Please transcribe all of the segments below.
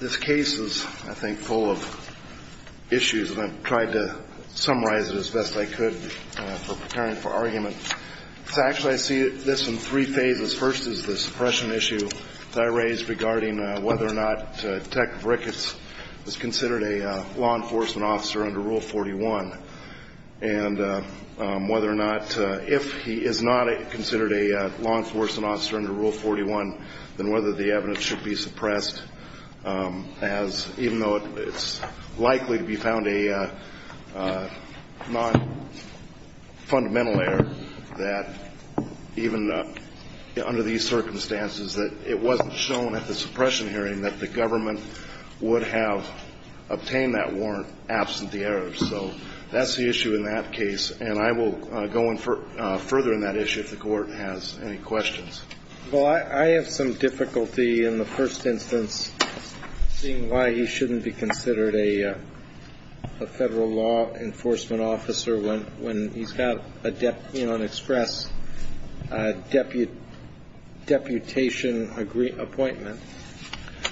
This case is, I think, full of issues, and I've tried to summarize it as best I could for preparing for argument. Actually, I see this in three phases. First is the suppression issue that I raised regarding whether or not Detective Ricketts is considered a law enforcement officer under Rule 41 and whether or not, if he is not considered a law enforcement officer under Rule 41, then whether the evidence should be suppressed as, even though it's likely to be found a non-fundamental error, that even under these circumstances that it wasn't shown at the suppression hearing that the government would have obtained that warrant absent the error. So that's the issue in that case, and I will go further in that issue if the Court has any questions. Well, I have some difficulty in the first instance seeing why he shouldn't be considered a federal law enforcement officer when he's got an express deputation appointment.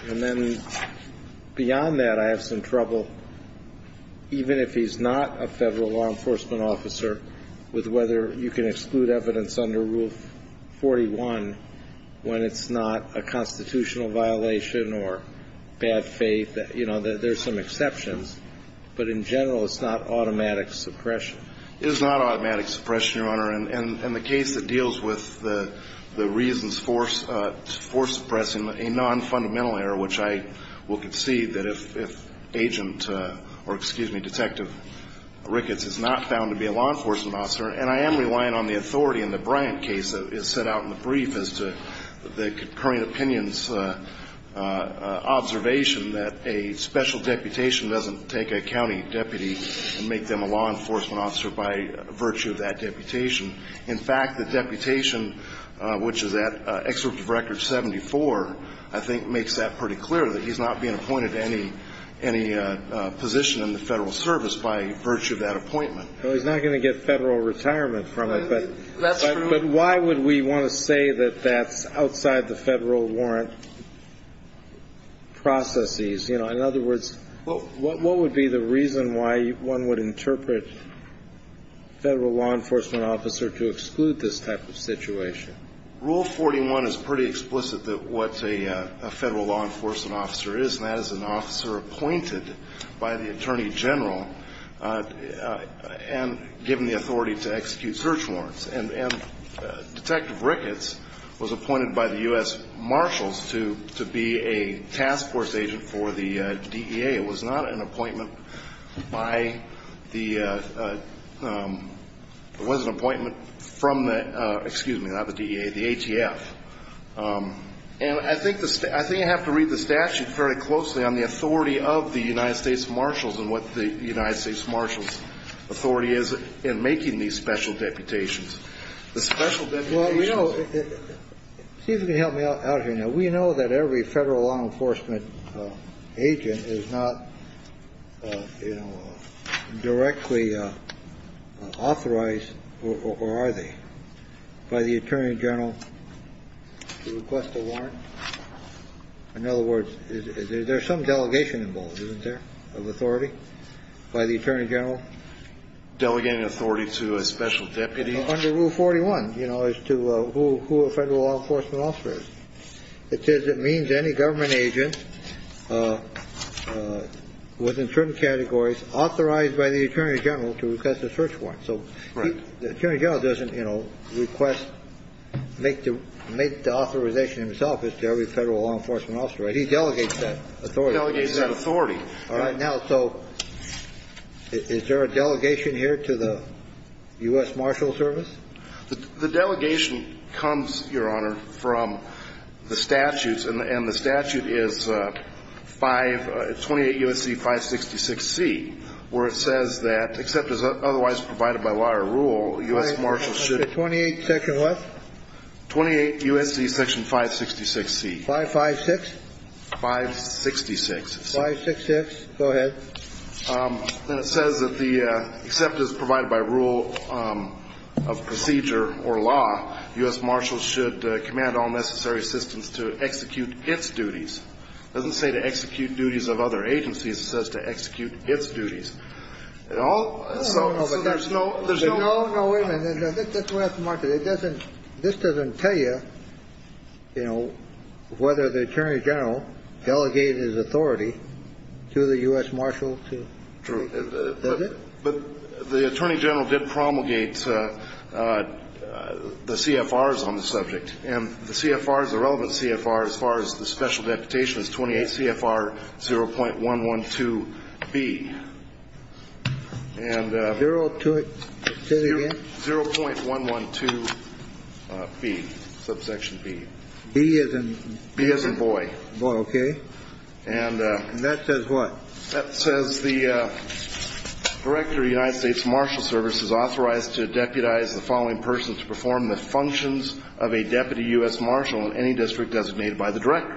And then beyond that, I have some trouble, even if he's not a federal law enforcement officer, with whether you can exclude evidence under Rule 41 when it's not a constitutional violation or bad faith. You know, there's some exceptions, but in general, it's not automatic suppression. It is not automatic suppression, Your Honor. And the case that deals with the reasons for suppressing a non-fundamental error, which I will concede that if Agent or, excuse me, Detective Ricketts is not found to be a law enforcement officer, and I am relying on the authority in the Bryant case that is set out in the brief as to the concurring opinions observation that a special deputation doesn't take a county deputy and make them a law enforcement officer by virtue of that deputation. In fact, the deputation, which is at excerpt of Record 74, I think makes that pretty clear, that he's not being appointed to any position in the Federal Service by virtue of that appointment. Well, he's not going to get Federal retirement from it. That's true. But why would we want to say that that's outside the Federal warrant processes? You know, in other words, what would be the reason why one would interpret a Federal law enforcement officer to exclude this type of situation? Rule 41 is pretty explicit what a Federal law enforcement officer is, and that is an officer appointed by the Attorney General and given the authority to execute search warrants. And Detective Ricketts was appointed by the U.S. Marshals to be a task force agent for the DEA. It was not an appointment by the ‑‑ it was an appointment from the ‑‑ excuse me, not the DEA, the ATF. And I think I have to read the statute very closely on the authority of the United States Marshals and what the United States Marshals authority is in making these special deputations. The special deputations ‑‑ Well, you know, see if you can help me out here now. We know that every Federal law enforcement agent is not, you know, directly authorized, or are they, by the Attorney General to request a warrant? In other words, there's some delegation involved, isn't there, of authority by the Attorney General? Delegating authority to a special deputy? Under Rule 41, you know, as to who a Federal law enforcement officer is. It says it means any government agent within certain categories authorized by the Attorney General to request a search warrant. So the Attorney General doesn't, you know, request, make the authorization himself. It's to every Federal law enforcement officer. He delegates that authority. He delegates that authority. All right. Now, so is there a delegation here to the U.S. Marshals Service? The delegation comes, Your Honor, from the statutes, and the statute is 5 ‑‑ 28 U.S.C. 566C, where it says that, except as otherwise provided by law or rule, U.S. Marshals should ‑‑ 28 section what? 28 U.S.C. section 566C. 556? 566. 566. Go ahead. And it says that the, except as provided by rule of procedure or law, U.S. Marshals should command all necessary systems to execute its duties. It doesn't say to execute duties of other agencies. It says to execute its duties. So there's no ‑‑ No, no, wait a minute. This doesn't tell you, you know, whether the Attorney General delegated his authority to the U.S. Marshals to ‑‑ True. Does it? But the Attorney General did promulgate the CFRs on the subject. And the CFRs, the relevant CFR, as far as the special deputation, is 28 CFR 0.112B. And ‑‑ Zero to it. Say it again. 0.112B, subsection B. B as in ‑‑ B as in boy. Boy, okay. And ‑‑ And that says what? That says the Director of the United States Marshals Service is authorized to deputize the following persons to perform the functions of a Deputy U.S. Marshal in any district designated by the Director.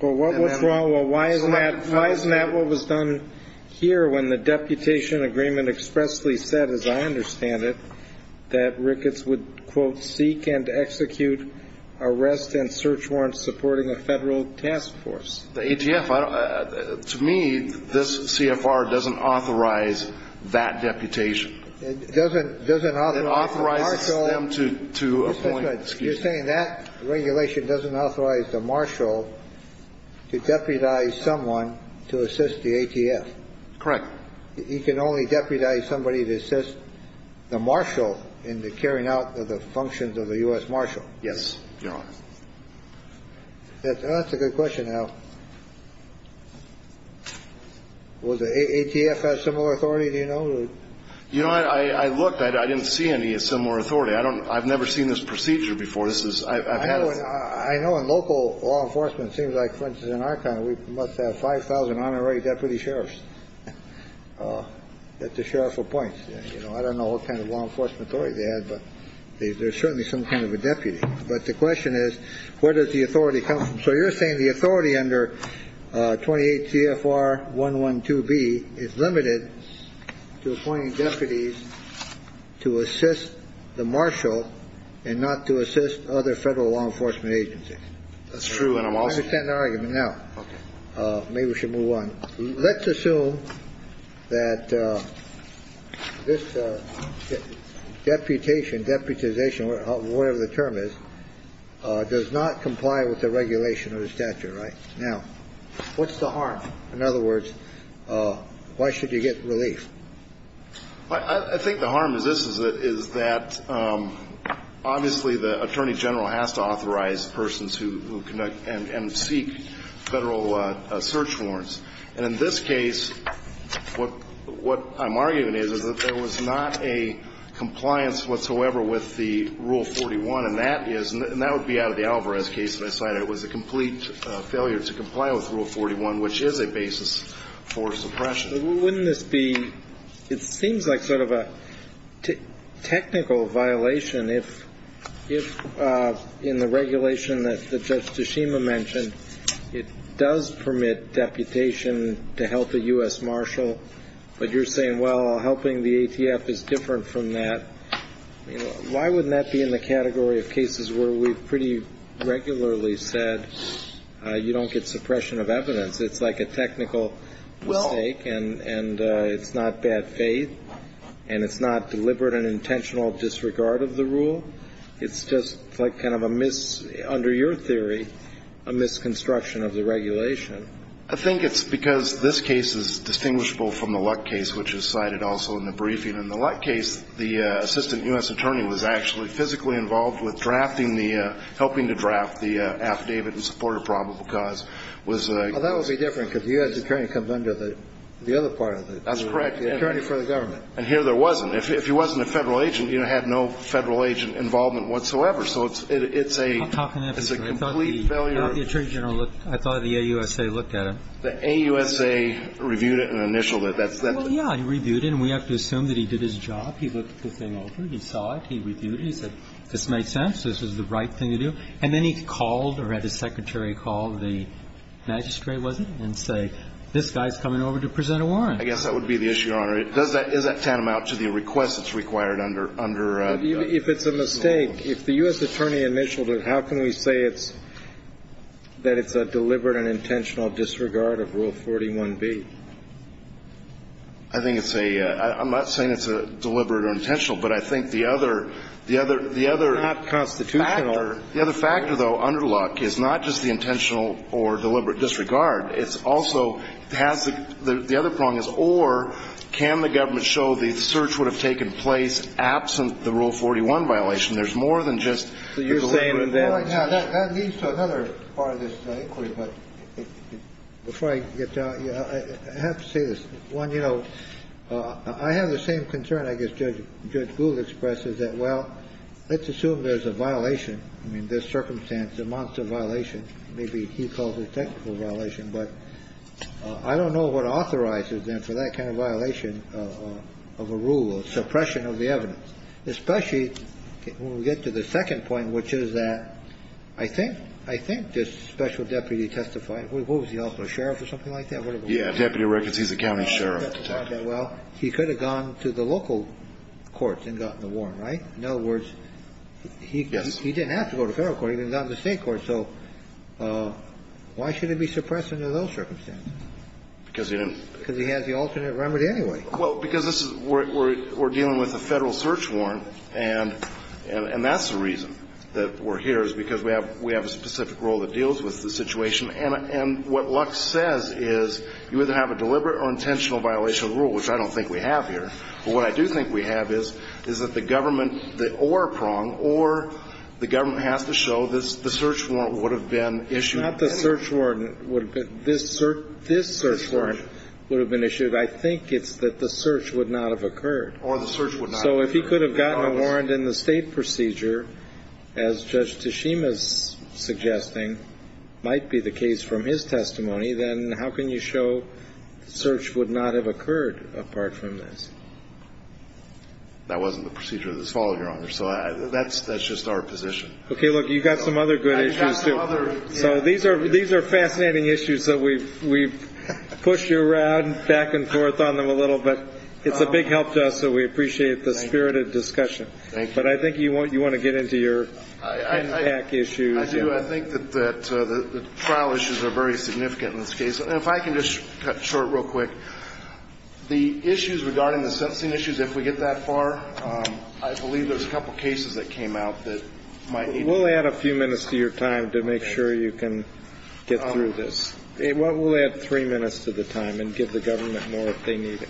Well, what's wrong? Well, why isn't that what was done here when the deputation agreement expressly said, as I understand it, that Ricketts would, quote, seek and execute arrest and search warrants supporting a federal task force? The ATF. To me, this CFR doesn't authorize that deputation. It doesn't authorize the marshal. It authorizes them to appoint ‑‑ You're saying that regulation doesn't authorize the marshal to deputize someone to assist the ATF. Correct. He can only deputize somebody to assist the marshal in the carrying out of the functions of the U.S. marshal. Yes, Your Honor. That's a good question, Al. Will the ATF have similar authority, do you know? Absolutely. You know, I looked. I didn't see any similar authority. I've never seen this procedure before. I know in local law enforcement, it seems like, for instance, in our county, we must have 5,000 honorary deputy sheriffs that the sheriff appoints. I don't know what kind of law enforcement authority they have, but there's certainly some kind of a deputy. But the question is, where does the authority come from? So you're saying the authority under 28 CFR 112B is limited to appointing deputies to assist the marshal and not to assist other federal law enforcement agencies. That's true. I understand the argument now. Maybe we should move on. Let's assume that this deputation, deputization, whatever the term is, does not comply with the regulation of the statute, right? Now, what's the harm? In other words, why should you get relief? I think the harm is this, is that obviously the attorney general has to authorize persons who conduct and seek federal search warrants. And in this case, what I'm arguing is, is that there was not a compliance whatsoever with the Rule 41. And that is – and that would be out of the Alvarez case that I cited. It was a complete failure to comply with Rule 41, which is a basis for suppression. Wouldn't this be – it seems like sort of a technical violation if, in the regulation that Judge Tashima mentioned, it does permit deputation to help a U.S. marshal, but you're saying, well, helping the ATF is different from that. Why wouldn't that be in the category of cases where we've pretty regularly said you don't get suppression of evidence? It's like a technical mistake. And it's not bad faith. And it's not deliberate and intentional disregard of the rule. It's just like kind of a – under your theory, a misconstruction of the regulation. I think it's because this case is distinguishable from the Luck case, which is cited also in the briefing. In the Luck case, the assistant U.S. attorney was actually physically involved with drafting the – helping to draft the affidavit in support of probable cause. Well, that would be different because the U.S. attorney comes under the other part of it. That's correct. The attorney for the government. And here there wasn't. If he wasn't a Federal agent, he would have had no Federal agent involvement whatsoever. So it's a – it's a complete failure. I thought the Attorney General looked – I thought the AUSA looked at him. The AUSA reviewed it and initialed it. Well, yeah. He reviewed it. And we have to assume that he did his job. He looked the thing over. He saw it. He reviewed it. He said, this makes sense. This is the right thing to do. And then he called or had his secretary call the magistrate, was it? And say, this guy's coming over to present a warrant. I guess that would be the issue, Your Honor. Does that – is that tantamount to the request that's required under – under the law? If it's a mistake, if the U.S. attorney initialed it, how can we say it's – that it's a deliberate and intentional disregard of Rule 41B? I think it's a – I'm not saying it's deliberate or intentional, but I think the other – the other – the other – It's not constitutional. The other factor, though, under the law, is not just the intentional or deliberate disregard. It's also has the – the other prong is, or can the government show the search would have taken place absent the Rule 41 violation? There's more than just the deliberate and intentional. That leads to another part of this inquiry. But before I get to that, I have to say this. One, you know, I have the same concern, I guess Judge – Judge Gould expressed, is that, well, let's assume there's a violation. I mean, this circumstance, a monster violation. Maybe he calls it technical violation, but I don't know what authorizes them for that kind of violation of a rule, a suppression of the evidence. Especially when we get to the second point, which is that I think – I think this special deputy testifying – what was he, also? A sheriff or something like that? Yeah, deputy records. He's a county sheriff. Well, he could have gone to the local courts and gotten the warrant, right? In other words, he didn't have to go to federal court. He didn't have to go to state court. So why should it be suppressed under those circumstances? Because he didn't – Because he has the alternate remedy anyway. Well, because this is – we're dealing with a Federal search warrant, and that's the reason that we're here, is because we have – we have a specific role that deals with the situation. And what Lux says is you either have a deliberate or intentional violation of the rule, which I don't think we have here. But what I do think we have is, is that the government – or Prong – or the government has to show the search warrant would have been issued. Not the search warrant would have been – this search warrant would have been issued. I think it's that the search would not have occurred. Or the search would not have occurred. So if he could have gotten a warrant in the state procedure, as Judge Teshima is suggesting might be the case from his testimony, then how can you show the search would not have occurred apart from this? That wasn't the procedure that was followed, Your Honor. So that's just our position. Okay, look, you've got some other good issues, too. I've got some other – So these are fascinating issues that we've pushed you around back and forth on them a little bit. It's a big help to us, so we appreciate the spirited discussion. Thank you. But I think you want to get into your impact issues. I do. I think that the trial issues are very significant in this case. And if I can just cut short real quick, the issues regarding the sentencing issues, if we get that far, I believe there's a couple cases that came out that might even – We'll add a few minutes to your time to make sure you can get through this. We'll add three minutes to the time and give the government more if they need it.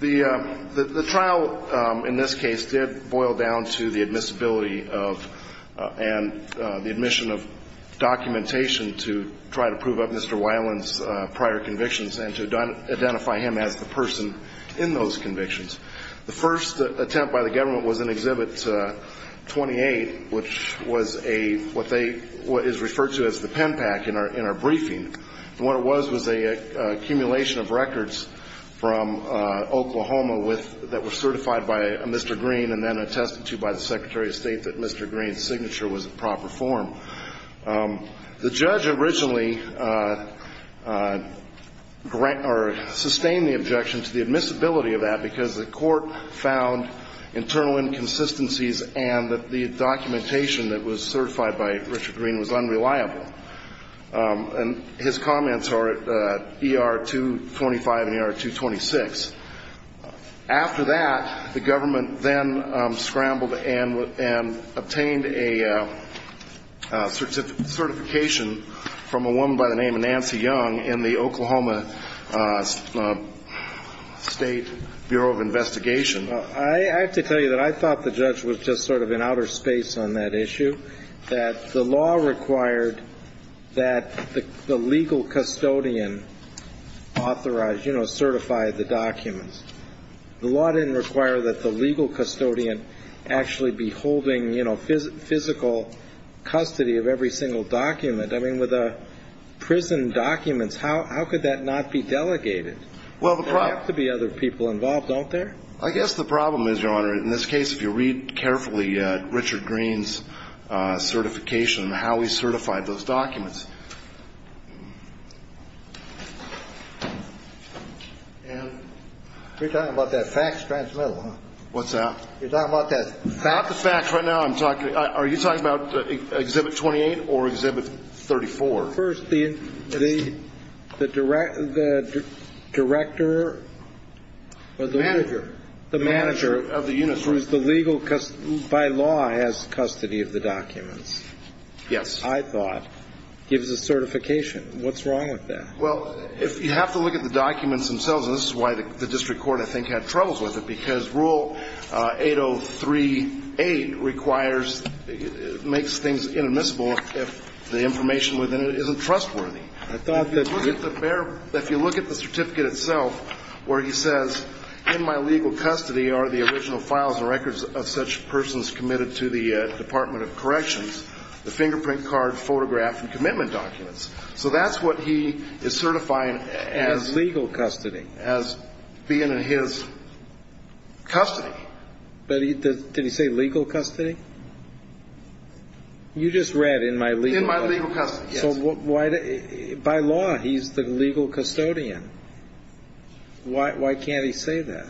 The trial in this case did boil down to the admissibility of and the admission of documentation to try to prove up Mr. Weiland's prior convictions and to identify him as the person in those convictions. The first attempt by the government was in Exhibit 28, which is referred to as the pen pack in our briefing. And what it was was an accumulation of records from Oklahoma that were certified by Mr. Green and then attested to by the Secretary of State that Mr. Green's signature was in proper form. The judge originally sustained the objection to the admissibility of that because the court found internal inconsistencies and that the documentation that was certified by Richard Green was unreliable. And his comments are at ER-225 and ER-226. After that, the government then scrambled and obtained a certification from a woman by the name of Nancy Young in the Oklahoma State Bureau of Investigation. I have to tell you that I thought the judge was just sort of in outer space on that issue, that the law required that the legal custodian authorize, you know, certify the documents. The law didn't require that the legal custodian actually be holding, you know, physical custody of every single document. I mean, with prison documents, how could that not be delegated? There have to be other people involved, don't there? I guess the problem is, Your Honor, in this case, if you read carefully Richard Green's certification and how he certified those documents. You're talking about that facts transmittal, huh? What's that? You're talking about that facts? Not the facts right now. Are you talking about Exhibit 28 or Exhibit 34? First, the director or the manager. The manager of the unit. By law has custody of the documents. Yes. I thought. Gives a certification. What's wrong with that? Well, if you have to look at the documents themselves, and this is why the district court I think had troubles with it, because Rule 8038 requires, makes things inadmissible if the information within it isn't trustworthy. I thought that. If you look at the certificate itself where he says, in my legal custody are the original files and records of such persons committed to the Department of Corrections, the fingerprint, card, photograph, and commitment documents. So that's what he is certifying as. As legal custody. As being in his custody. But did he say legal custody? You just read in my legal. In my legal custody, yes. So by law, he's the legal custodian. Why can't he say that?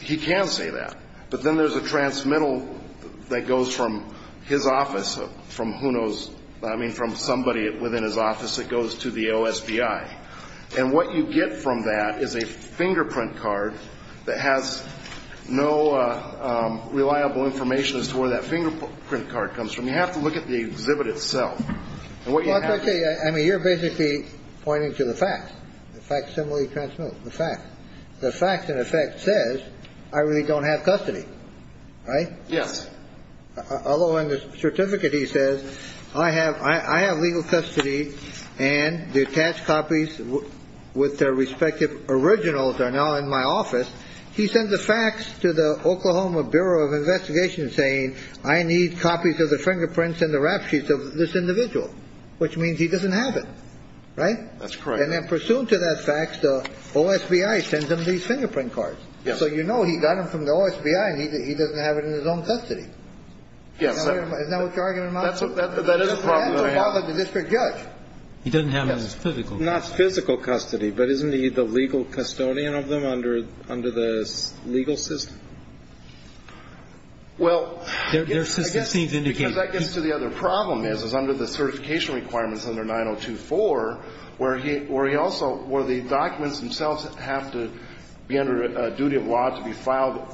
He can say that. But then there's a transmittal that goes from his office, from who knows, I mean, from somebody within his office that goes to the OSBI. And what you get from that is a fingerprint card that has no reliable information as to where that fingerprint card comes from. You have to look at the exhibit itself. And what you have to do. I mean, you're basically pointing to the facts. The facts simply transmit. The facts. The facts, in effect, says I really don't have custody. Right? Yes. Although in the certificate, he says, I have I have legal custody. And the attached copies with their respective originals are now in my office. He sent the facts to the Oklahoma Bureau of Investigation saying, I need copies of the fingerprints and the rap sheets of this individual, which means he doesn't have it. Right. That's correct. And then pursuant to that fact, the OSBI sends him these fingerprint cards. So, you know, he got them from the OSBI. He doesn't have it in his own custody. Yes. Isn't that what you're arguing about? That is a problem that I have. The district judge. He doesn't have it in his physical custody. Not physical custody. But isn't he the legal custodian of them under the legal system? Well, I guess. Their system seems to indicate. Because that gets to the other problem is, is under the certification requirements under 9024, where he also, where the documents themselves have to be under a duty of law to be filed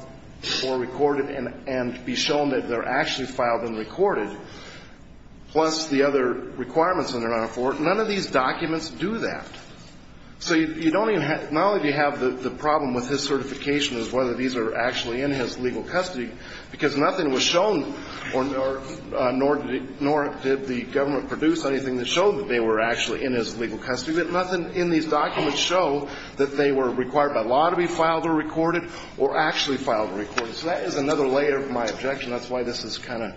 or recorded and be shown that they're actually filed and recorded, plus the other requirements under 9024, none of these documents do that. So you don't even have, not only do you have the problem with his certification is whether these are actually in his legal custody, because nothing was shown, nor did the government produce anything that showed that they were actually in his legal custody, but nothing in these documents show that they were required by law to be filed or recorded or actually filed or recorded. So that is another layer of my objection. That's why this is kind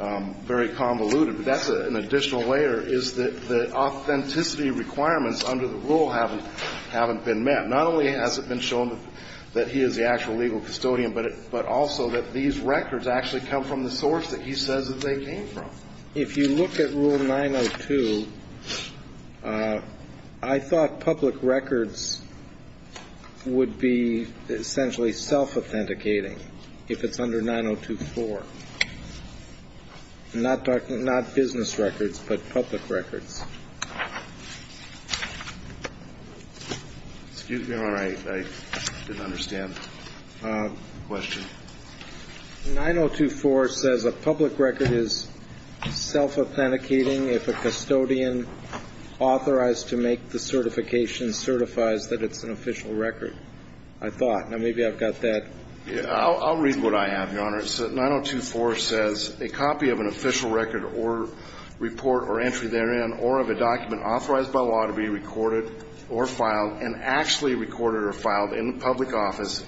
of very convoluted. But that's an additional layer, is that the authenticity requirements under the rule haven't been met. Not only has it been shown that he is the actual legal custodian, but also that these records actually come from the source that he says that they came from. If you look at Rule 902, I thought public records would be essentially self-authenticating if it's under 9024, not business records, but public records. Excuse me, Your Honor. I didn't understand the question. 9024 says a public record is self-authenticating if a custodian authorized to make the certification certifies that it's an official record. I thought. Now, maybe I've got that. I'll read what I have, Your Honor. 9024 says a copy of an official record or report or entry therein or of a document authorized by law to be recorded or filed and actually recorded or filed in the public office,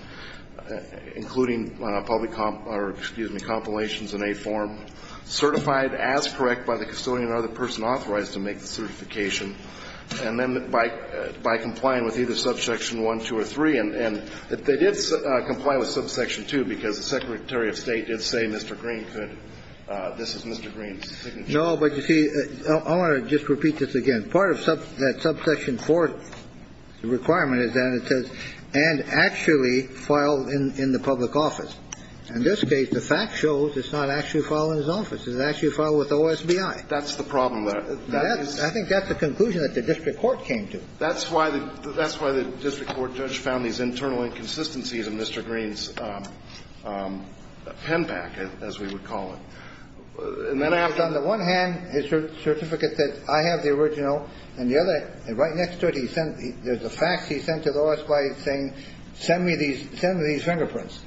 including public comp or, excuse me, compilations in a form, certified as correct by the custodian or other person authorized to make the certification, and then by complying with either subsection 1, 2, or 3. And they did comply with subsection 2 because the Secretary of State did say Mr. Green could, this is Mr. Green's signature. No, but you see, I want to just repeat this again. The part of that subsection 4 requirement is that it says and actually filed in the public office. In this case, the fact shows it's not actually filed in his office. It's actually filed with the OSBI. That's the problem there. I think that's the conclusion that the district court came to. That's why the district court judge found these internal inconsistencies in Mr. Green's pen back, as we would call it. On the one hand, his certificate said, I have the original. And the other, right next to it, there's a fax he sent to the OSBI saying, send me these fingerprints,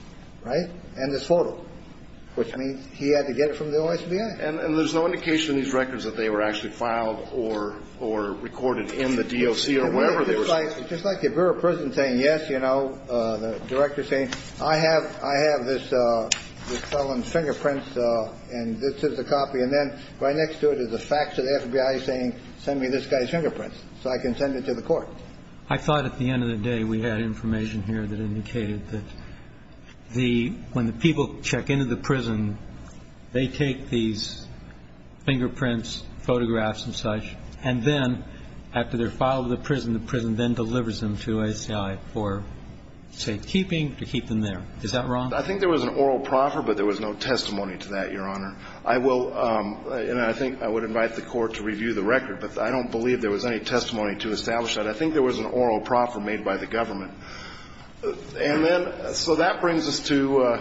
right? And this photo, which means he had to get it from the OSBI. And there's no indication in these records that they were actually filed or recorded in the DOC or wherever they were. It's just like your Bureau of Prisons saying, yes, you know, the director saying, I have this felon's fingerprints. And this is a copy. And then right next to it is a fax to the OSBI saying, send me this guy's fingerprints so I can send it to the court. I thought at the end of the day we had information here that indicated that the when the people check into the prison, they take these fingerprints, photographs and such. And then after they're filed with the prison, the prison then delivers them to OSBI for safekeeping to keep them there. Is that wrong? I think there was an oral proffer, but there was no testimony to that, Your Honor. I will, and I think I would invite the Court to review the record, but I don't believe there was any testimony to establish that. I think there was an oral proffer made by the government. And then, so that brings us to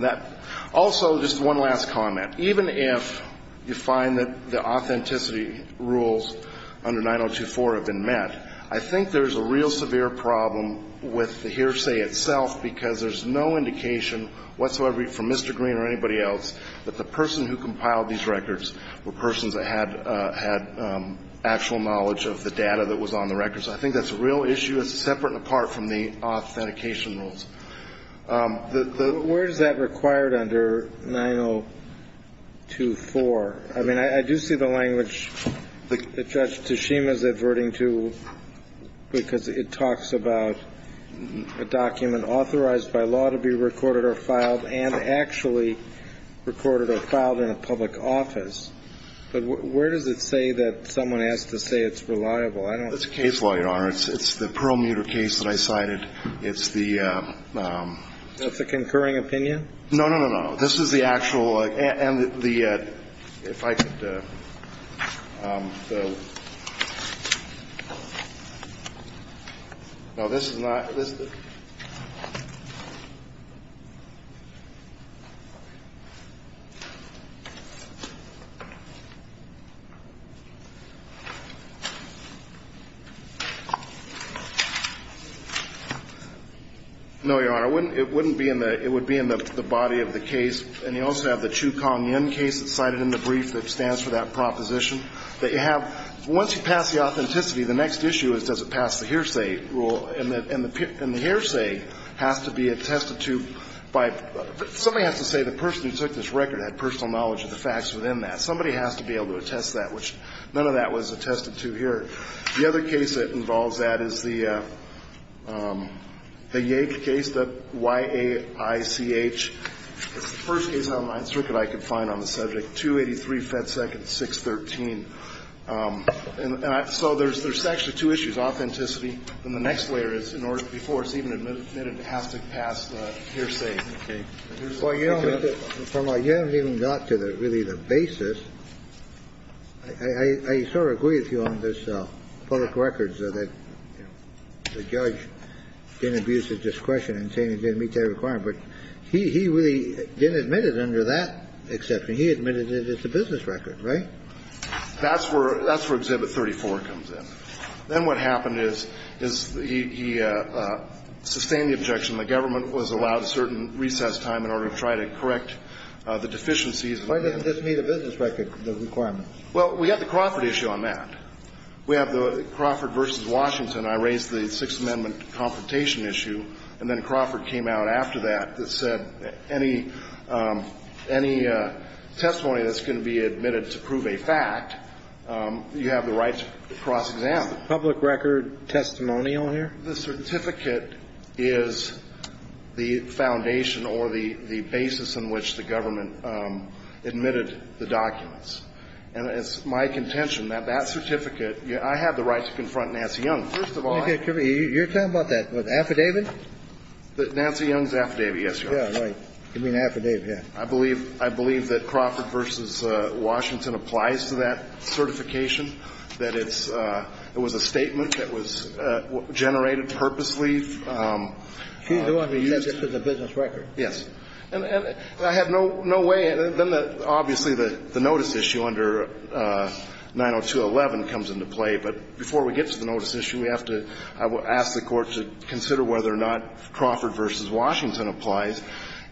that. Also, just one last comment. Even if you find that the authenticity rules under 9024 have been met, I think there's a real severe problem with the hearsay itself because there's no indication whatsoever from Mr. Green or anybody else that the person who compiled these records were persons that had actual knowledge of the data that was on the records. I think that's a real issue. It's separate and apart from the authentication rules. Where is that required under 9024? I mean, I do see the language that Judge Tashima is adverting to because it talks about a document authorized by law to be recorded or filed and actually recorded or filed in a public office. But where does it say that someone has to say it's reliable? I don't know. It's a case, Your Honor. It's the Perlmuter case that I cited. It's the ‑‑ That's a concurring opinion? No, no, no, no. This is the actual ‑‑ and the ‑‑ if I could ‑‑ no, this is not. No, Your Honor. It would be in the body of the case. And you also have the Chiu Kong-Yen case that's cited in the brief that stands for that proposition that you have. Once you pass the authenticity, the next issue is does it pass the hearsay rule. And the hearsay has to be attested to by ‑‑ somebody has to say the person who took this record had personal knowledge of the facts within that. Somebody has to be able to attest that, which none of that was attested to here. The other case that involves that is the Yake case, the Y-A-I-C-H. It's the first case on my circuit I could find on the subject. 283 FedSec and 613. And so there's actually two issues, authenticity and the next layer is in order before it's even admitted it has to pass the hearsay. Well, Your Honor, from where you haven't even got to really the basis, I sort of agree with you on this public records that the judge didn't abuse his discretion in saying he didn't meet that requirement. But he really didn't admit it under that exception. He admitted it's a business record, right? That's where ‑‑ that's where Exhibit 34 comes in. Then what happened is he sustained the objection the government was allowed a certain recess time in order to try to correct the deficiencies. Why doesn't this meet a business record, the requirement? Well, we have the Crawford issue on that. We have the Crawford v. Washington. I raised the Sixth Amendment confrontation issue and then Crawford came out after that that said any testimony that's going to be admitted to prove a fact, you have the right to cross-examine. Is the public record testimonial here? The certificate is the foundation or the basis on which the government admitted the documents. And it's my contention that that certificate ‑‑ I have the right to confront Nancy Young. First of all ‑‑ You're talking about that affidavit? Nancy Young's affidavit, yes, Your Honor. Yeah, right. You mean affidavit, yeah. I believe that Crawford v. Washington applies to that certification, that it's ‑‑ it was a statement that was generated purposely. She's the one who used it for the business record. Yes. And I have no way ‑‑ obviously the notice issue under 902.11 comes into play, but before we get to the notice issue, we have to ‑‑ I will ask the Court to consider whether or not Crawford v. Washington applies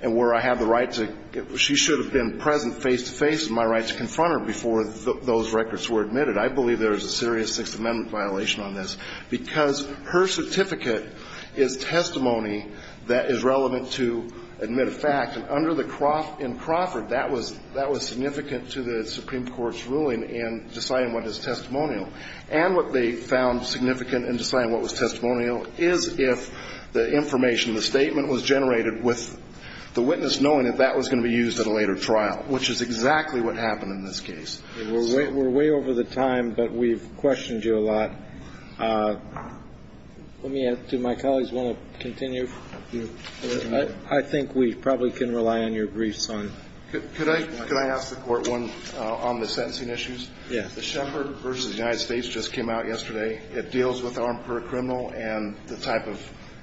and where I have the right to ‑‑ she should have been present face to face with my right to confront her before those records were admitted. I believe there is a serious Sixth Amendment violation on this because her certificate is testimony that is relevant to admit a fact. And under the ‑‑ in Crawford, that was significant to the Supreme Court's ruling in deciding what is testimonial. And what they found significant in deciding what was testimonial is if the information, the statement was generated with the witness knowing that that was going to be used at a later trial, which is exactly what happened in this case. We're way over the time, but we've questioned you a lot. Let me ask, do my colleagues want to continue? I think we probably can rely on your briefs on ‑‑ Could I ask the Court one on the sentencing issues? Yes. The Shepherd v. United States just came out yesterday. It deals with armed criminal and the type of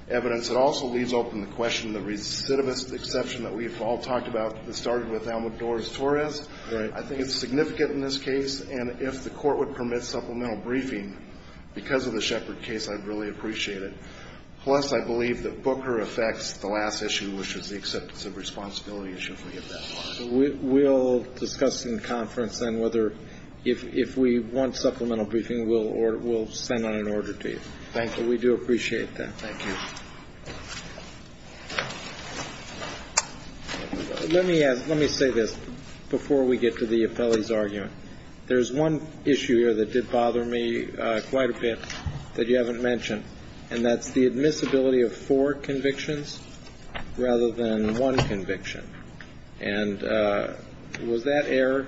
evidence. It also leaves open the question of the recidivist exception that we've all talked about that started with Almodores Torres. Right. I think it's significant in this case. And if the Court would permit supplemental briefing, because of the Shepherd case, I'd really appreciate it. Plus, I believe that Booker affects the last issue, which was the acceptance of responsibility issue, if we get that far. We'll discuss in conference then whether, if we want supplemental briefing, we'll send out an order to you. Thank you. We do appreciate that. Thank you. Let me say this before we get to the Apelli's argument. There's one issue here that did bother me quite a bit that you haven't mentioned, and that's the admissibility of four convictions rather than one conviction. And was that error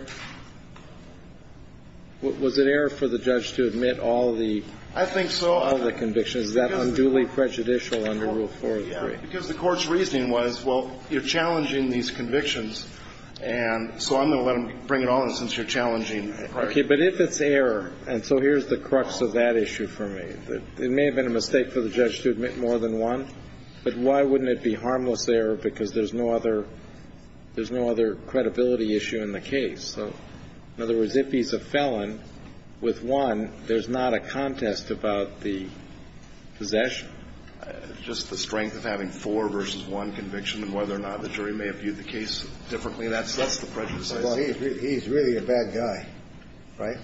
‑‑ was it error for the judge to admit all the ‑‑ I think so. All the convictions. Is that unduly prejudicial under Rule 403? Because the Court's reasoning was, well, you're challenging these convictions, and so I'm going to let him bring it all in since you're challenging ‑‑ Okay. But if it's error, and so here's the crux of that issue for me, that it may have been a mistake for the judge to admit more than one, but why wouldn't it be harmless error because there's no other ‑‑ there's no other credibility issue in the case? So in other words, if he's a felon with one, there's not a contest about the possession? Just the strength of having four versus one conviction and whether or not the jury may have viewed the case differently, that's the prejudice. Well, he's really a bad guy, right?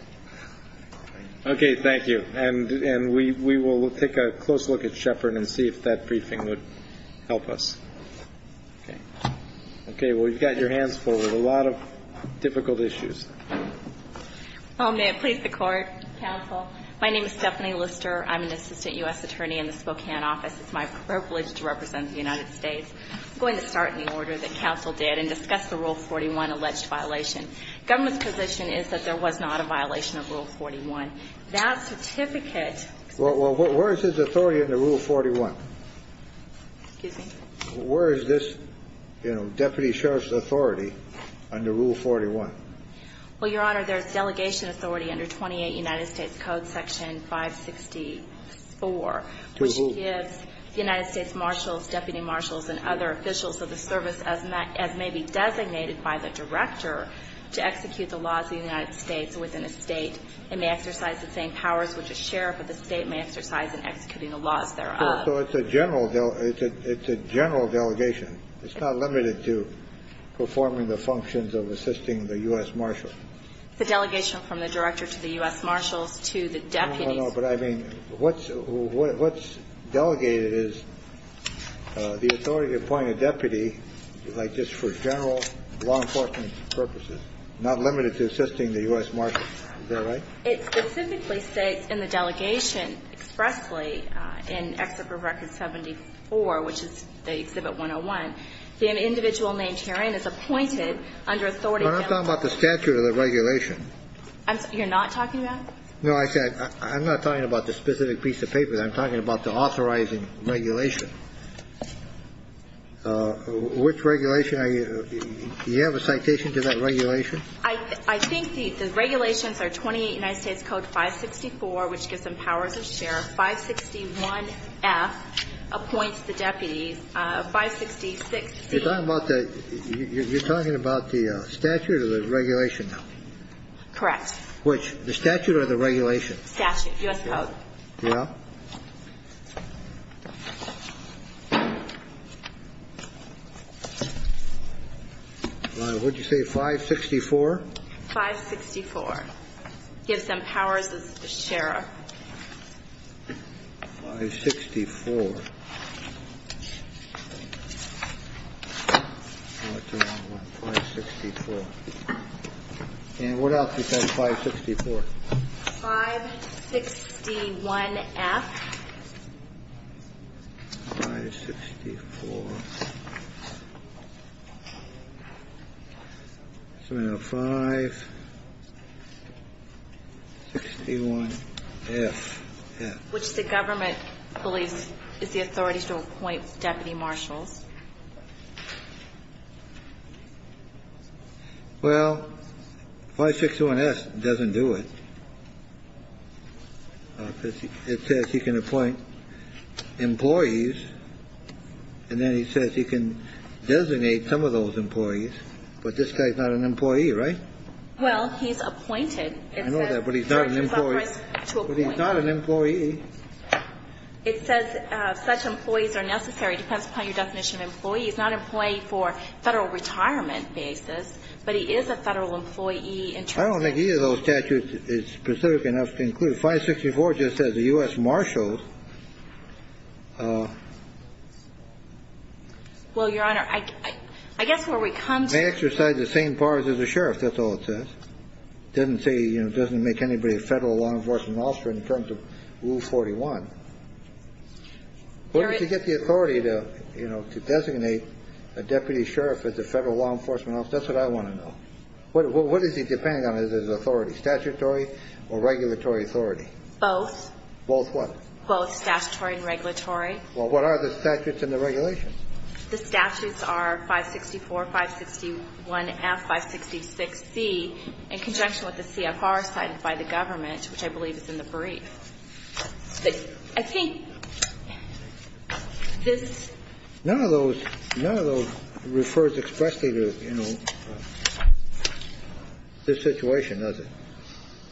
Okay. Thank you. And we will take a close look at Sheppard and see if that briefing would help us. Okay. Okay. Well, you've got your hands full with a lot of difficult issues. May it please the Court, counsel. My name is Stephanie Lister. I'm an assistant U.S. attorney in the Spokane office. It's my privilege to represent the United States. I'm going to start in the order that counsel did and discuss the Rule 41 alleged violation. Government's position is that there was not a violation of Rule 41. That certificate ‑‑ Well, where is his authority in the Rule 41? Excuse me? Where is this, you know, deputy sheriff's authority under Rule 41? Well, Your Honor, there's delegation authority under 28 United States Code section 564. To whom? Which gives the United States marshals, deputy marshals and other officials of the service as may be designated by the director to execute the laws of the United States within a State. It may exercise the same powers which a sheriff of the State may exercise in executing the laws thereof. So it's a general ‑‑ it's a general delegation. It's not limited to performing the functions of assisting the U.S. marshals. It's a delegation from the director to the U.S. marshals to the deputies. No, no, no. But I mean, what's delegated is the authority to appoint a deputy like this for general law enforcement purposes, not limited to assisting the U.S. marshals. Is that right? It specifically states in the delegation expressly in Executive Record 74, which is the Exhibit 101, the individual named herein is appointed under authority to ‑‑ I'm not talking about the statute or the regulation. You're not talking about? No, I said I'm not talking about the specific piece of paper. I'm talking about the authorizing regulation. Which regulation are you ‑‑ do you have a citation to that regulation? I think the regulations are 28 United States Code 564, which gives them powers of sheriff. 561F appoints the deputies. 566C ‑‑ You're talking about the statute or the regulation now? Correct. Which? The statute or the regulation? Statute, U.S. Code. Yeah. What did you say? 564? 564. Gives them powers of sheriff. 564. What's the wrong one? 564. And what else does that 564? 561F. Which the government believes is the authority to appoint deputy marshals. Well, 561S doesn't do it. Employees. And then he says he can designate some of those employees. But this guy's not an employee, right? Well, he's appointed. I know that, but he's not an employee. But he's not an employee. It says such employees are necessary. Depends upon your definition of employee. He's not an employee for federal retirement basis. But he is a federal employee in terms of ‑‑ I don't think either of those statutes is specific enough to include. But 564 just says a U.S. marshal. Well, Your Honor, I guess where we come to ‑‑ May exercise the same powers as a sheriff. That's all it says. Doesn't make anybody a federal law enforcement officer in terms of Rule 41. But to get the authority to designate a deputy sheriff as a federal law enforcement officer, that's what I want to know. What does he depend on? Statutory or regulatory authority? Both. Both what? Both statutory and regulatory. Well, what are the statutes and the regulations? The statutes are 564, 561F, 566C, in conjunction with the CFR cited by the government, which I believe is in the brief. But I think this ‑‑ None of those ‑‑ none of those refers expressly to, you know, this situation, does it?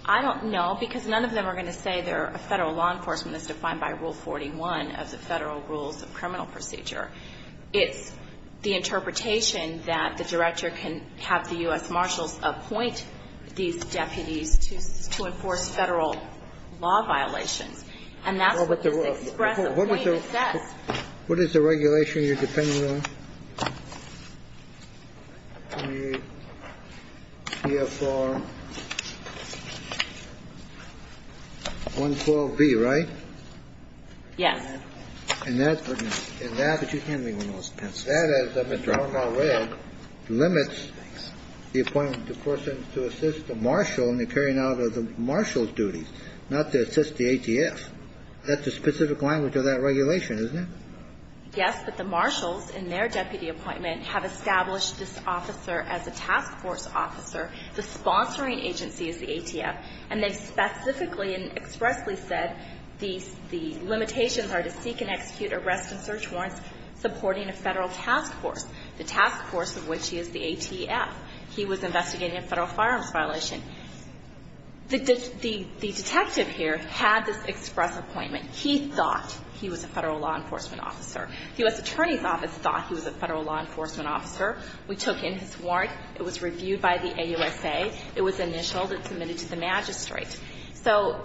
I don't know, because none of them are going to say they're a federal law enforcement that's defined by Rule 41 of the Federal Rules of Criminal Procedure. It's the interpretation that the director can have the U.S. marshals appoint these deputies to enforce federal law violations. And that's what this express opinion says. What is the regulation you're depending on? The CFR 112B, right? Yes. And that ‑‑ And that, which is handling one of those pencils. That, as Mr. Hornell read, limits the appointment of the person to assist the marshal in the carrying out of the marshal's duties, not to assist the ATF. That's a specific language of that regulation, isn't it? Yes. But the marshals, in their deputy appointment, have established this officer as a task force officer. The sponsoring agency is the ATF. And they've specifically and expressly said the limitations are to seek and execute arrest and search warrants supporting a federal task force, the task force of which is the ATF. He was investigating a federal firearms violation. The detective here had this express appointment. He thought he was a federal law enforcement officer. The U.S. Attorney's Office thought he was a federal law enforcement officer. We took in his warrant. It was reviewed by the AUSA. It was initialed. It submitted to the magistrate. So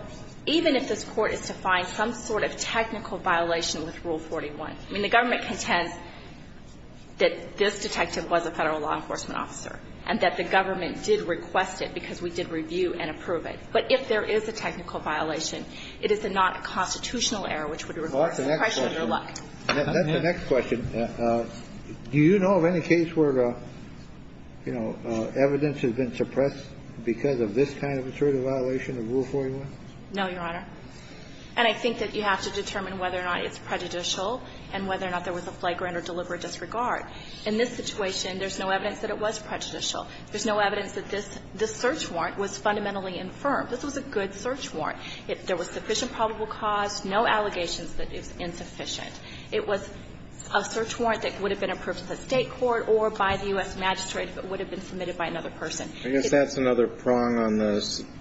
even if this Court is to find some sort of technical violation with Rule 41, I mean, the government contends that this detective was a federal law enforcement officer and that the government did request it because we did review and approve it. But if there is a technical violation, it is not a constitutional error which would reverse the pressure of your luck. That's the next question. Do you know of any case where, you know, evidence has been suppressed because of this kind of assertive violation of Rule 41? No, Your Honor. And I think that you have to determine whether or not it's prejudicial and whether or not there was a flagrant or deliberate disregard. In this situation, there's no evidence that it was prejudicial. There's no evidence that this search warrant was fundamentally infirm. This was a good search warrant. There was sufficient probable cause, no allegations that it's insufficient. It was a search warrant that would have been approved at the State court or by the U.S. magistrate if it would have been submitted by another person. I guess that's another prong on the –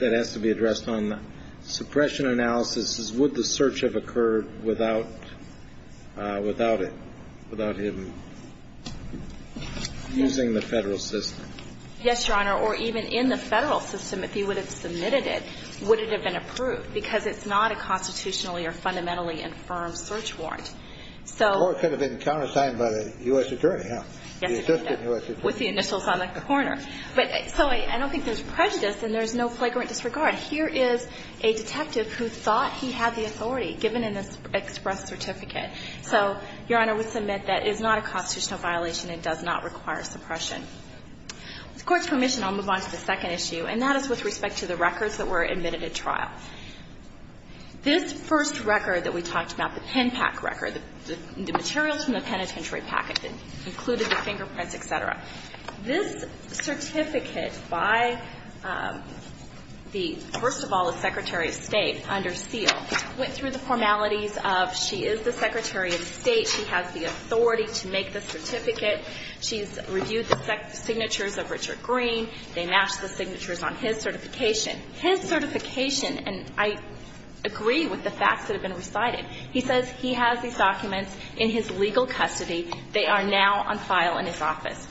that has to be addressed on the suppression analysis is would the search have occurred without it, without him using the Federal system? Yes, Your Honor. Or even in the Federal system, if he would have submitted it, would it have been approved? Because it's not a constitutionally or fundamentally infirm search warrant. So – The court could have been countersigned by the U.S. attorney, huh? Yes, Your Honor. The assistant U.S. attorney. With the initials on the corner. But so I don't think there's prejudice and there's no flagrant disregard. Here is a detective who thought he had the authority given in this express certificate. So, Your Honor, we submit that it is not a constitutional violation. It does not require suppression. With the Court's permission, I'll move on to the second issue, and that is with respect to the records that were admitted at trial. This first record that we talked about, the pen pack record, the materials from the penitentiary packet that included the fingerprints, et cetera, this certificate by the, first of all, the Secretary of State under seal, went through the formalities of she is the Secretary of State, she has the authority to make the certificate, she's reviewed the signatures of Richard Green, they matched the signatures on his certification. His certification, and I agree with the facts that have been recited, he says he has these documents in his legal custody. They are now on file in his office.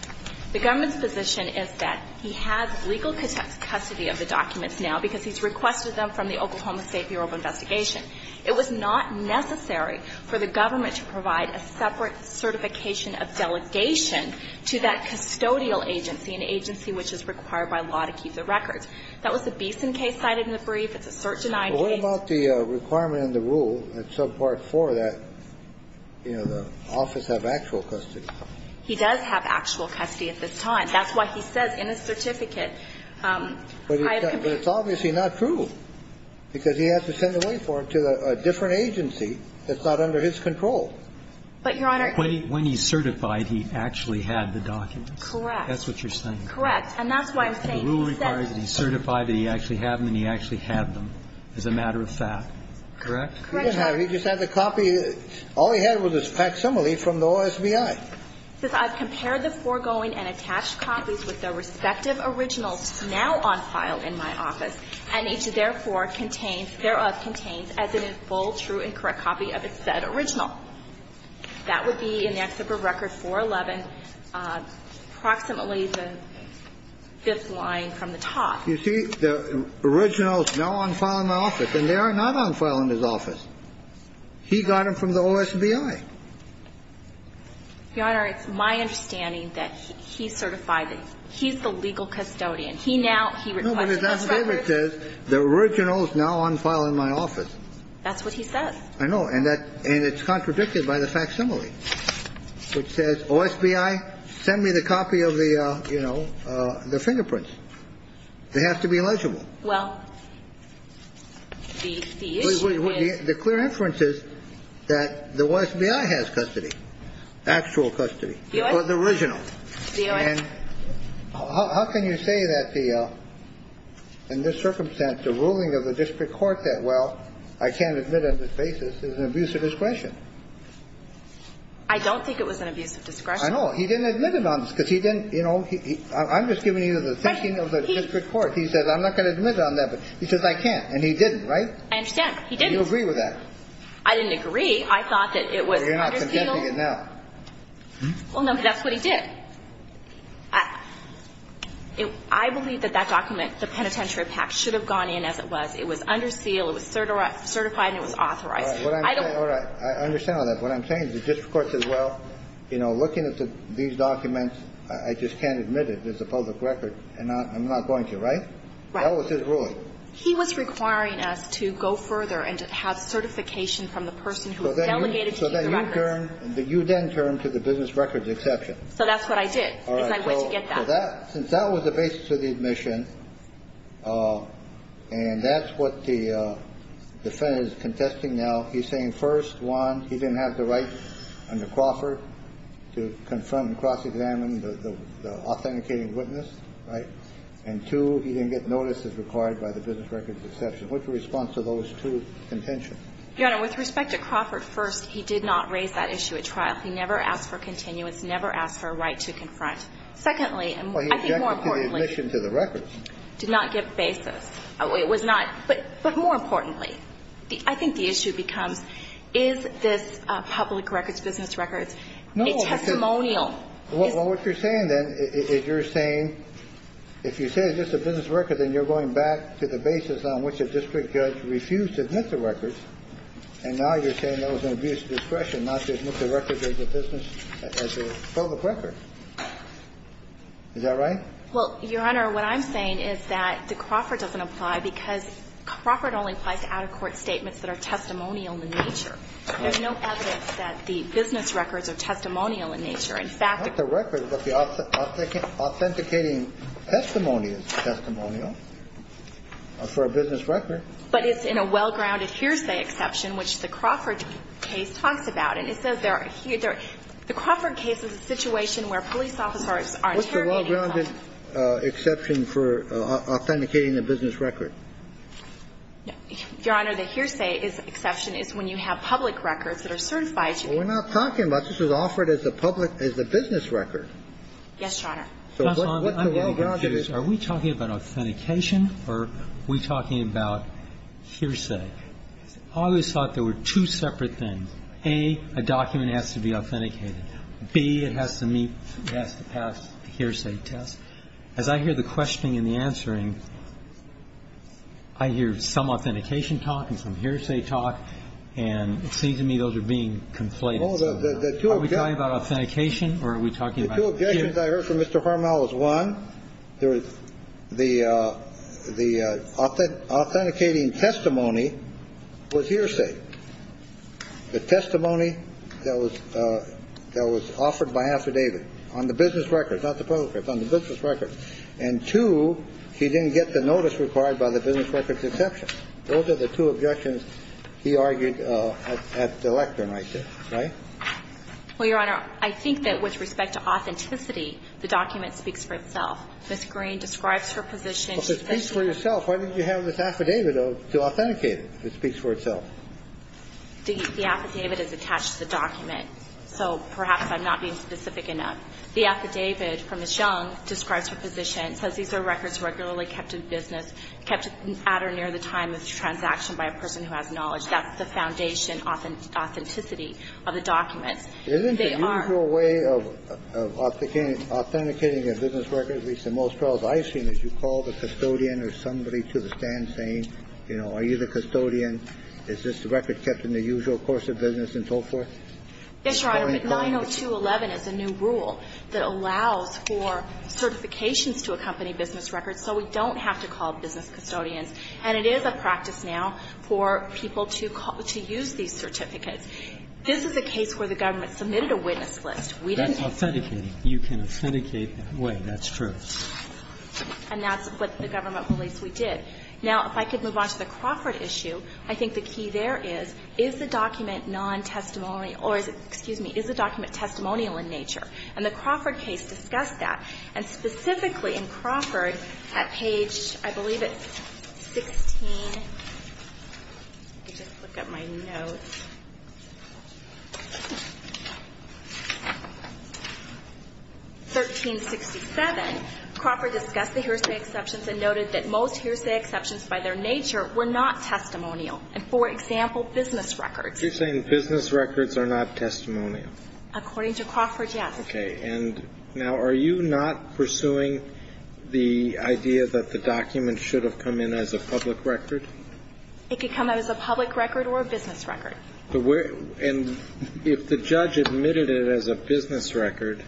The government's position is that he has legal custody of the documents now because he's requested them from the Oklahoma State Bureau of Investigation. It was not necessary for the government to provide a separate certification of delegation to that custodial agency, an agency which is required by law to keep the records. That was the Beeson case cited in the brief. It's a cert-denied case. Kennedy. But what about the requirement in the rule at subpart 4 that, you know, the office have actual custody? He does have actual custody at this time. That's why he says in his certificate, I have complete- But it's obviously not true because he has to send it away for him to a different agency that's not under his control. But, Your Honor- When he certified he actually had the documents. Correct. That's what you're saying. Correct. And that's why I'm saying he said- The rule requires that he certify that he actually had them and he actually had them as a matter of fact. Correct? Correct, Your Honor. Now, he just had the copy. All he had was a facsimile from the OSBI. It says, I've compared the foregoing and attached copies with their respective originals now on file in my office, and each, therefore, contains, thereof contains as in its full, true and correct copy of its said original. That would be in the excerpt of Record 411 approximately the fifth line from the top. You see the originals now on file in the office, and they are not on file in his office. He got them from the OSBI. Your Honor, it's my understanding that he certified it. He's the legal custodian. He now- No, but his affidavit says the originals now on file in my office. That's what he says. I know. And it's contradicted by the facsimile, which says, OSBI, send me the copy of the, They have to be legible. Well, the issue is- The clear inference is that the OSBI has custody, actual custody, or the original. And how can you say that the, in this circumstance, the ruling of the district court that, well, I can't admit on this basis is an abuse of discretion? I don't think it was an abuse of discretion. I know. He didn't admit it on this, because he didn't, you know, I'm just giving you the thinking of the district court. He says, I'm not going to admit on that. He says, I can't. And he didn't, right? I understand. He didn't. Do you agree with that? I didn't agree. I thought that it was under seal. You're not contending it now. Well, no, but that's what he did. I believe that that document, the penitentiary pact, should have gone in as it was. It was under seal. It was certified and it was authorized. All right. I understand all that. What I'm saying is the district court says, well, you know, looking at these documents, I just can't admit it. It's a public record. And I'm not going to, right? Right. That was his ruling. He was requiring us to go further and to have certification from the person who delegated to you the records. So then you turned to the business records exception. So that's what I did. All right. Because I went to get that. Since that was the basis of the admission, and that's what the defendant is contesting now, he's saying, first, one, he didn't have the right under Crawford to confirm and cross-examine the authenticating witness, right? And two, he didn't get notice as required by the business records exception. What's the response to those two contentions? Your Honor, with respect to Crawford, first, he did not raise that issue at trial. He never asked for continuance, never asked for a right to confront. Secondly, and I think more importantly. Well, he objected to the admission to the records. Did not give basis. It was not. But more importantly, I think the issue becomes, is this public records business records a testimonial? Well, what you're saying, then, is you're saying, if you say it's just a business record, then you're going back to the basis on which a district judge refused to admit the records. And now you're saying that was an abuse of discretion not to admit the records as a business, as a public record. Is that right? Well, Your Honor, what I'm saying is that the Crawford doesn't apply because Crawford only applies to out-of-court statements that are testimonial in nature. There's no evidence that the business records are testimonial in nature. In fact. Not the records, but the authenticating testimony is testimonial for a business record. But it's in a well-grounded hearsay exception, which the Crawford case talks about. And it says there are here the Crawford case is a situation where police officers are interrogating. What's the well-grounded exception for authenticating a business record? Your Honor, the hearsay exception is when you have public records that are certified to be. Well, we're not talking about. It's a case where the public records are certified to be authenticated. So the basis is offered as the public as the business record. Yes, Your Honor. So what the well-grounded is. Are we talking about authentication or are we talking about hearsay? I always thought there were two separate things. A, a document has to be authenticated. B, it has to meet, it has to pass the hearsay test. As I hear the questioning and the answering, I hear some authentication talk and some hearsay talk. And it seems to me those are being conflated. Are we talking about authentication or are we talking about hearsay? The two objections I heard from Mr. Hormel is one, the authenticating testimony was hearsay. The testimony that was offered by affidavit on the business record, not the public record, on the business record. And two, he didn't get the notice required by the business record's exception. Those are the two objections he argued at the lectern right there. Right? Well, Your Honor, I think that with respect to authenticity, the document speaks for itself. Ms. Green describes her position. Well, if it speaks for itself, why didn't you have this affidavit to authenticate it if it speaks for itself? The affidavit is attached to the document. So perhaps I'm not being specific enough. The affidavit from Ms. Young describes her position. It says these are records regularly kept in business, kept at or near the time of the transaction by a person who has knowledge. That's the foundation authenticity of the documents. They are. Isn't the usual way of authenticating a business record, at least in most trials I've seen, is you call the custodian or somebody to the stand saying, you know, are you the custodian? Is this record kept in the usual course of business and so forth? Yes, Your Honor. But 902.11 is a new rule that allows for certifications to accompany business records, so we don't have to call business custodians. And it is a practice now for people to use these certificates. This is a case where the government submitted a witness list. We didn't ask them. That's authenticating. You can authenticate that way. That's true. And that's what the government believes we did. Now, if I could move on to the Crawford issue, I think the key there is, is the document non-testimony or is it, excuse me, is the document testimonial in nature? And the Crawford case discussed that. And specifically in Crawford, at page, I believe it's 16, let me just look up my notes. 1367, Crawford discussed the hearsay exceptions and noted that most hearsay exceptions by their nature were not testimonial. And for example, business records. You're saying business records are not testimonial? According to Crawford, yes. Okay. And now, are you not pursuing the idea that the document should have come in as a public record? It could come out as a public record or a business record. And if the judge admitted it as a business record,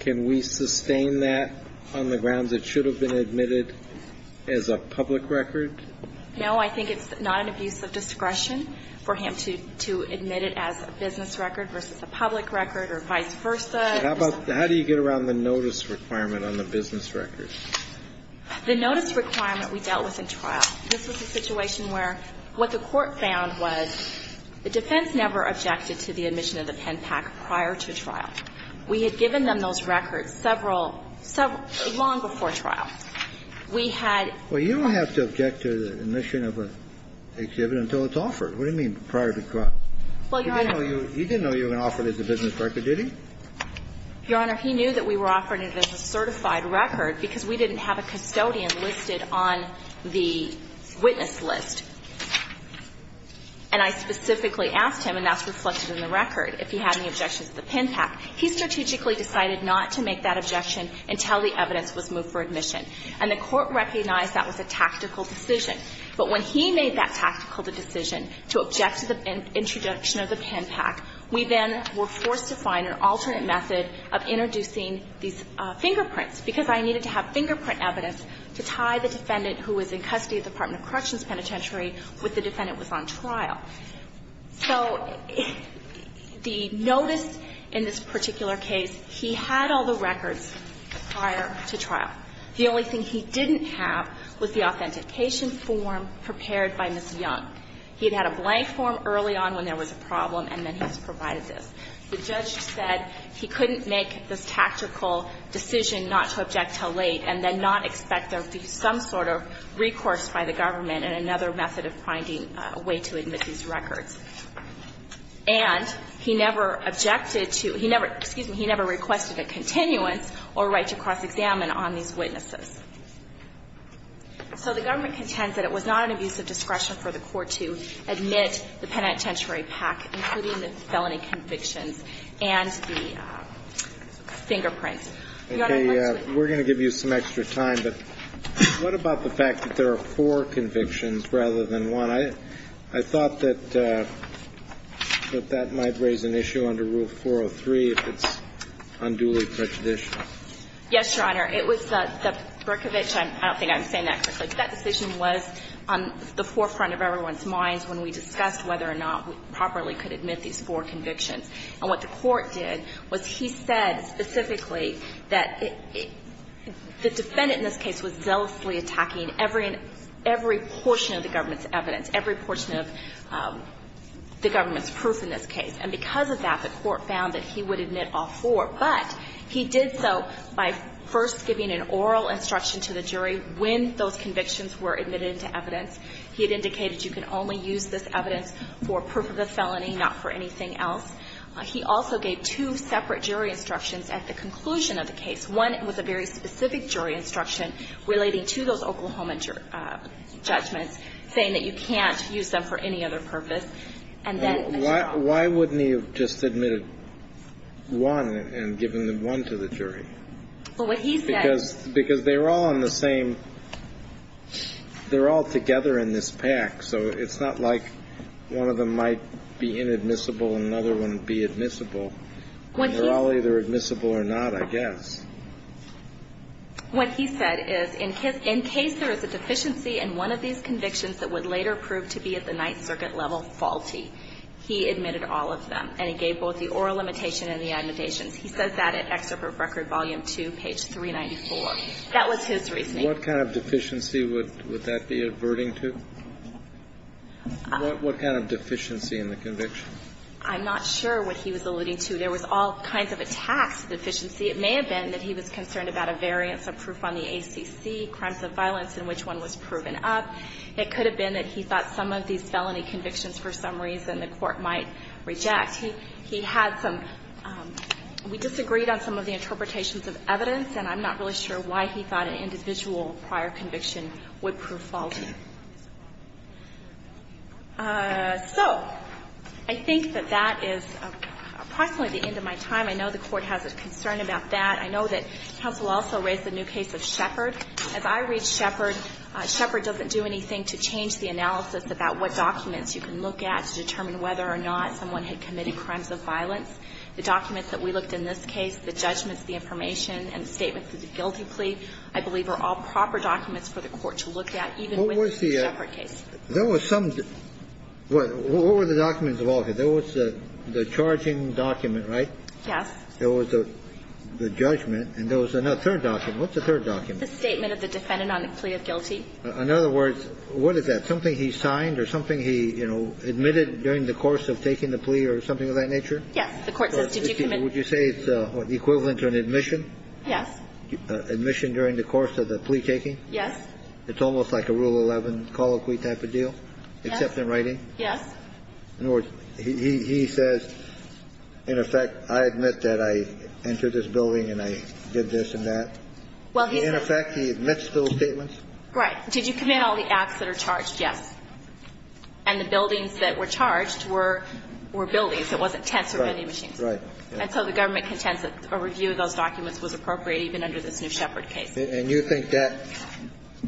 can we sustain that on the grounds it should have been admitted as a public record? No, I think it's not an abuse of discretion for him to admit it as a business record versus a public record or vice versa. How do you get around the notice requirement on the business record? The notice requirement we dealt with in trial. This was a situation where what the Court found was the defense never objected to the admission of the pen pack prior to trial. We had given them those records several, long before trial. We had. Well, you don't have to object to the admission of an exhibit until it's offered. What do you mean prior to trial? Well, Your Honor. He didn't know you were going to offer it as a business record, did he? Your Honor, he knew that we were offering it as a certified record because we didn't have a custodian listed on the witness list. And I specifically asked him, and that's reflected in the record, if he had any objections to the pen pack. He strategically decided not to make that objection until the evidence was moved for admission. And the Court recognized that was a tactical decision. But when he made that tactical decision to object to the introduction of the pen pack, we then were forced to find an alternate method of introducing these fingerprints, because I needed to have fingerprint evidence to tie the defendant who was in custody at the Department of Corrections Penitentiary with the defendant who was on trial. So the notice in this particular case, he had all the records prior to trial. The only thing he didn't have was the authentication form prepared by Ms. Young. He had had a blank form early on when there was a problem, and then he was provided this. The judge said he couldn't make this tactical decision not to object until late and then not expect there to be some sort of recourse by the government in another method of finding a way to admit these records. And he never objected to – he never – excuse me – he never requested a continuance or a right to cross-examine on these witnesses. So the government contends that it was not an abuse of discretion for the Court to admit the penitentiary pack, including the felony convictions and the fingerprints. Your Honor, let's move on. We're going to give you some extra time, but what about the fact that there are four convictions rather than one? I thought that that might raise an issue under Rule 403 if it's unduly prejudicial. Yes, Your Honor. It was the Berkovich – I don't think I'm saying that correctly – but that decision was on the forefront of everyone's minds when we discussed whether or not we properly could admit these four convictions. And what the Court did was he said specifically that the defendant in this case was evidence, every portion of the government's proof in this case. And because of that, the Court found that he would admit all four. But he did so by first giving an oral instruction to the jury when those convictions were admitted into evidence. He had indicated you can only use this evidence for proof of the felony, not for anything else. He also gave two separate jury instructions at the conclusion of the case. One was a very specific jury instruction relating to those Oklahoma judgments, saying that you can't use them for any other purpose. And then – Well, why wouldn't he have just admitted one and given one to the jury? Well, what he said – Because they were all on the same – they're all together in this pack, so it's not like one of them might be inadmissible and another one be admissible. When he – They're all either admissible or not, I guess. What he said is in his – in case there is a deficiency in one of these convictions that would later prove to be at the Ninth Circuit level faulty, he admitted all of them, and he gave both the oral limitation and the admonitions. He says that at Excerpt of Record, Volume 2, page 394. That was his reasoning. What kind of deficiency would that be averting to? What kind of deficiency in the conviction? I'm not sure what he was alluding to. There was all kinds of attacks to deficiency. It may have been that he was concerned about a variance of proof on the ACC, crimes of violence in which one was proven up. It could have been that he thought some of these felony convictions for some reason the Court might reject. He had some – we disagreed on some of the interpretations of evidence, and I'm not really sure why he thought an individual prior conviction would prove faulty. So I think that that is approximately the end of my time. I know the Court has a concern about that. I know that counsel also raised the new case of Shepard. As I read Shepard, Shepard doesn't do anything to change the analysis about what documents you can look at to determine whether or not someone had committed crimes of violence. The documents that we looked in this case, the judgments, the information, and the statements of the guilty plea, I believe, are all proper documents for the Court to look at, even within the Shepard case. There was some – what were the documents of all of it? There was the charging document, right? Yes. There was the judgment, and there was another – third document. What's the third document? It's a statement of the defendant on a plea of guilty. In other words, what is that? Something he signed or something he, you know, admitted during the course of taking the plea or something of that nature? Yes. The Court says, did you commit – Would you say it's equivalent to an admission? Yes. Admission during the course of the plea-taking? Yes. It's almost like a Rule 11 colloquy type of deal? Yes. Except in writing? Yes. In other words, he says, in effect, I admit that I entered this building and I did this and that? Well, he says- In effect, he admits those statements? Right. Did you commit all the acts that are charged? Yes. And the buildings that were charged were buildings. It wasn't tents or vending machines. Right. Right. And so the government contends that a review of those documents was appropriate even under this new Shepard case. And you think that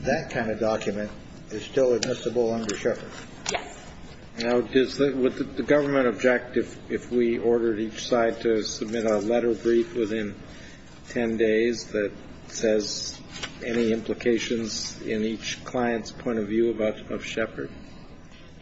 that kind of document is still admissible under Shepard? Yes. Now, does the – would the government object if we ordered each side to submit a letter brief within 10 days that says any implications in each client's point of view about – of Shepard?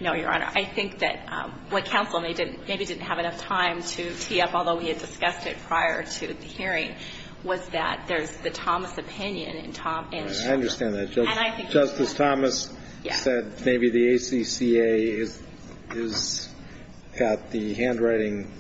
No, Your Honor. I think that what counsel maybe didn't have enough time to tee up, although we had discussed it prior to the hearing, was that there's the Thomas opinion and Thomas- I understand that. And I think- Justice Thomas said maybe the ACCA has got the handwriting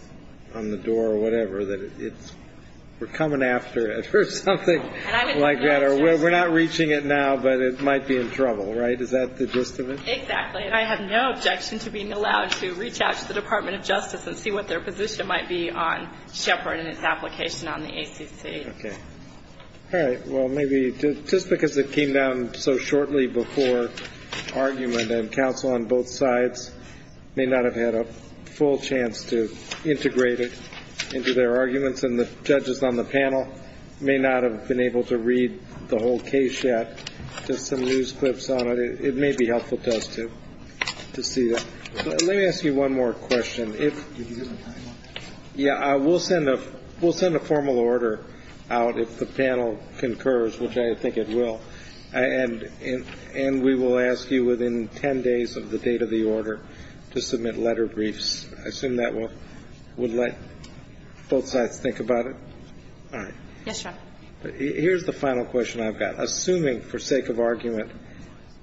on the door or whatever that it's – we're coming after it or something like that. And I would- Or we're not reaching it now, but it might be in trouble, right? Is that the gist of it? Exactly. And I have no objection to being allowed to reach out to the Department of Justice and see what their position might be on Shepard and its application on the ACC. Okay. All right. Well, maybe just because it came down so shortly before argument and counsel on both sides may not have had a full chance to integrate it into their arguments and the judges on the panel may not have been able to read the whole case yet, just some news clips on it. It may be helpful to us to see that. Let me ask you one more question. Yeah. We'll send a formal order out if the panel concurs, which I think it will. And we will ask you within 10 days of the date of the order to submit letter briefs. I assume that would let both sides think about it. All right. Yes, Your Honor. Here's the final question I've got. Assuming for sake of argument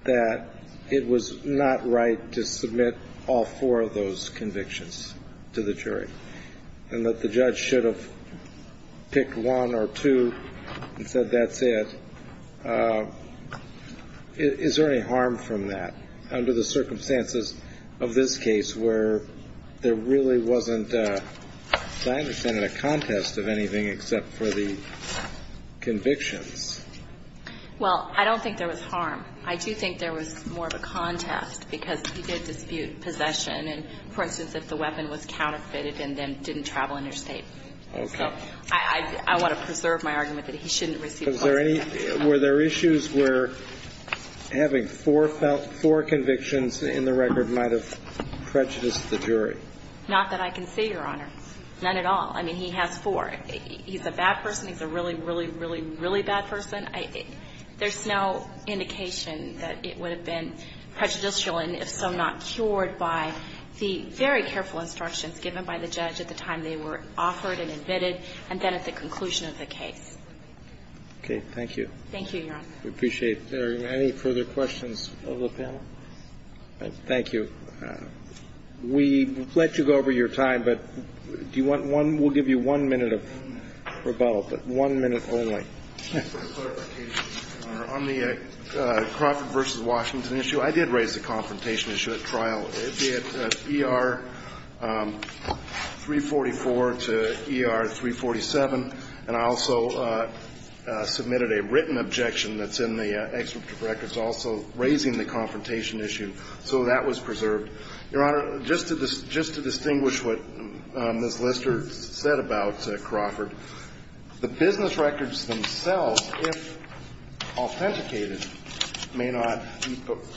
that it was not right to submit all four of those convictions to the jury and that the judge should have picked one or two and said that's it, is there any harm from that under the circumstances of this case where there really wasn't, as I understand it, a contest of anything except for the convictions? Well, I don't think there was harm. I do think there was more of a contest because he did dispute possession, and, for instance, if the weapon was counterfeited and then didn't travel interstate. Okay. So I want to preserve my argument that he shouldn't receive false evidence. Were there issues where having four convictions in the record might have prejudiced the jury? Not that I can say, Your Honor. None at all. I mean, he has four. He's a bad person. He's a really, really, really, really bad person. There's no indication that it would have been prejudicial and, if so, not cured by the very careful instructions given by the judge at the time they were offered and admitted and then at the conclusion of the case. Okay. Thank you. Thank you, Your Honor. We appreciate it. Are there any further questions of the panel? Thank you. We'll let you go over your time, but do you want one? We'll give you one minute of rebuttal, but one minute only. On the Crawford v. Washington issue, I did raise the confrontation issue at trial. It's at ER 344 to ER 347, and I also submitted a written objection that's in the records also raising the confrontation issue, so that was preserved. Your Honor, just to distinguish what Ms. Lister said about Crawford, the business records themselves, if authenticated, may not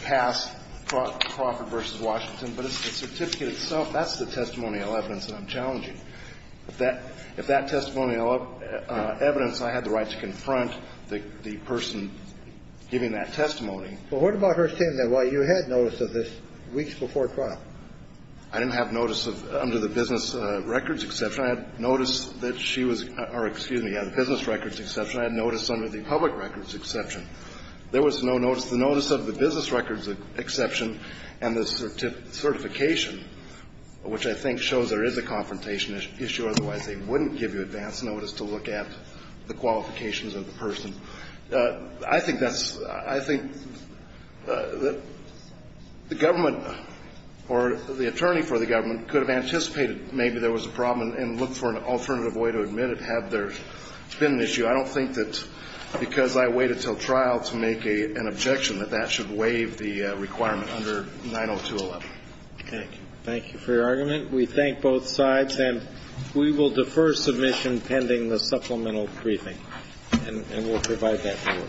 pass Crawford v. Washington, but the certificate itself, that's the testimonial evidence that I'm challenging. If that testimonial evidence, I had the right to confront the person giving that testimony. But what about her saying that, well, you had notice of this weeks before trial? I didn't have notice under the business records exception. I had notice that she was or, excuse me, the business records exception. I had notice under the public records exception. There was no notice. The notice of the business records exception and the certification, which I think shows there is a confrontation issue, otherwise they wouldn't give you advance notice to look at the qualifications of the person. I think that's the government or the attorney for the government could have anticipated maybe there was a problem and looked for an alternative way to admit it had there been an issue. I don't think that because I waited until trial to make an objection that that should waive the requirement under 902.11. Thank you. Thank you for your argument. We thank both sides, and we will defer submission pending the supplemental briefing. And we'll provide that for you.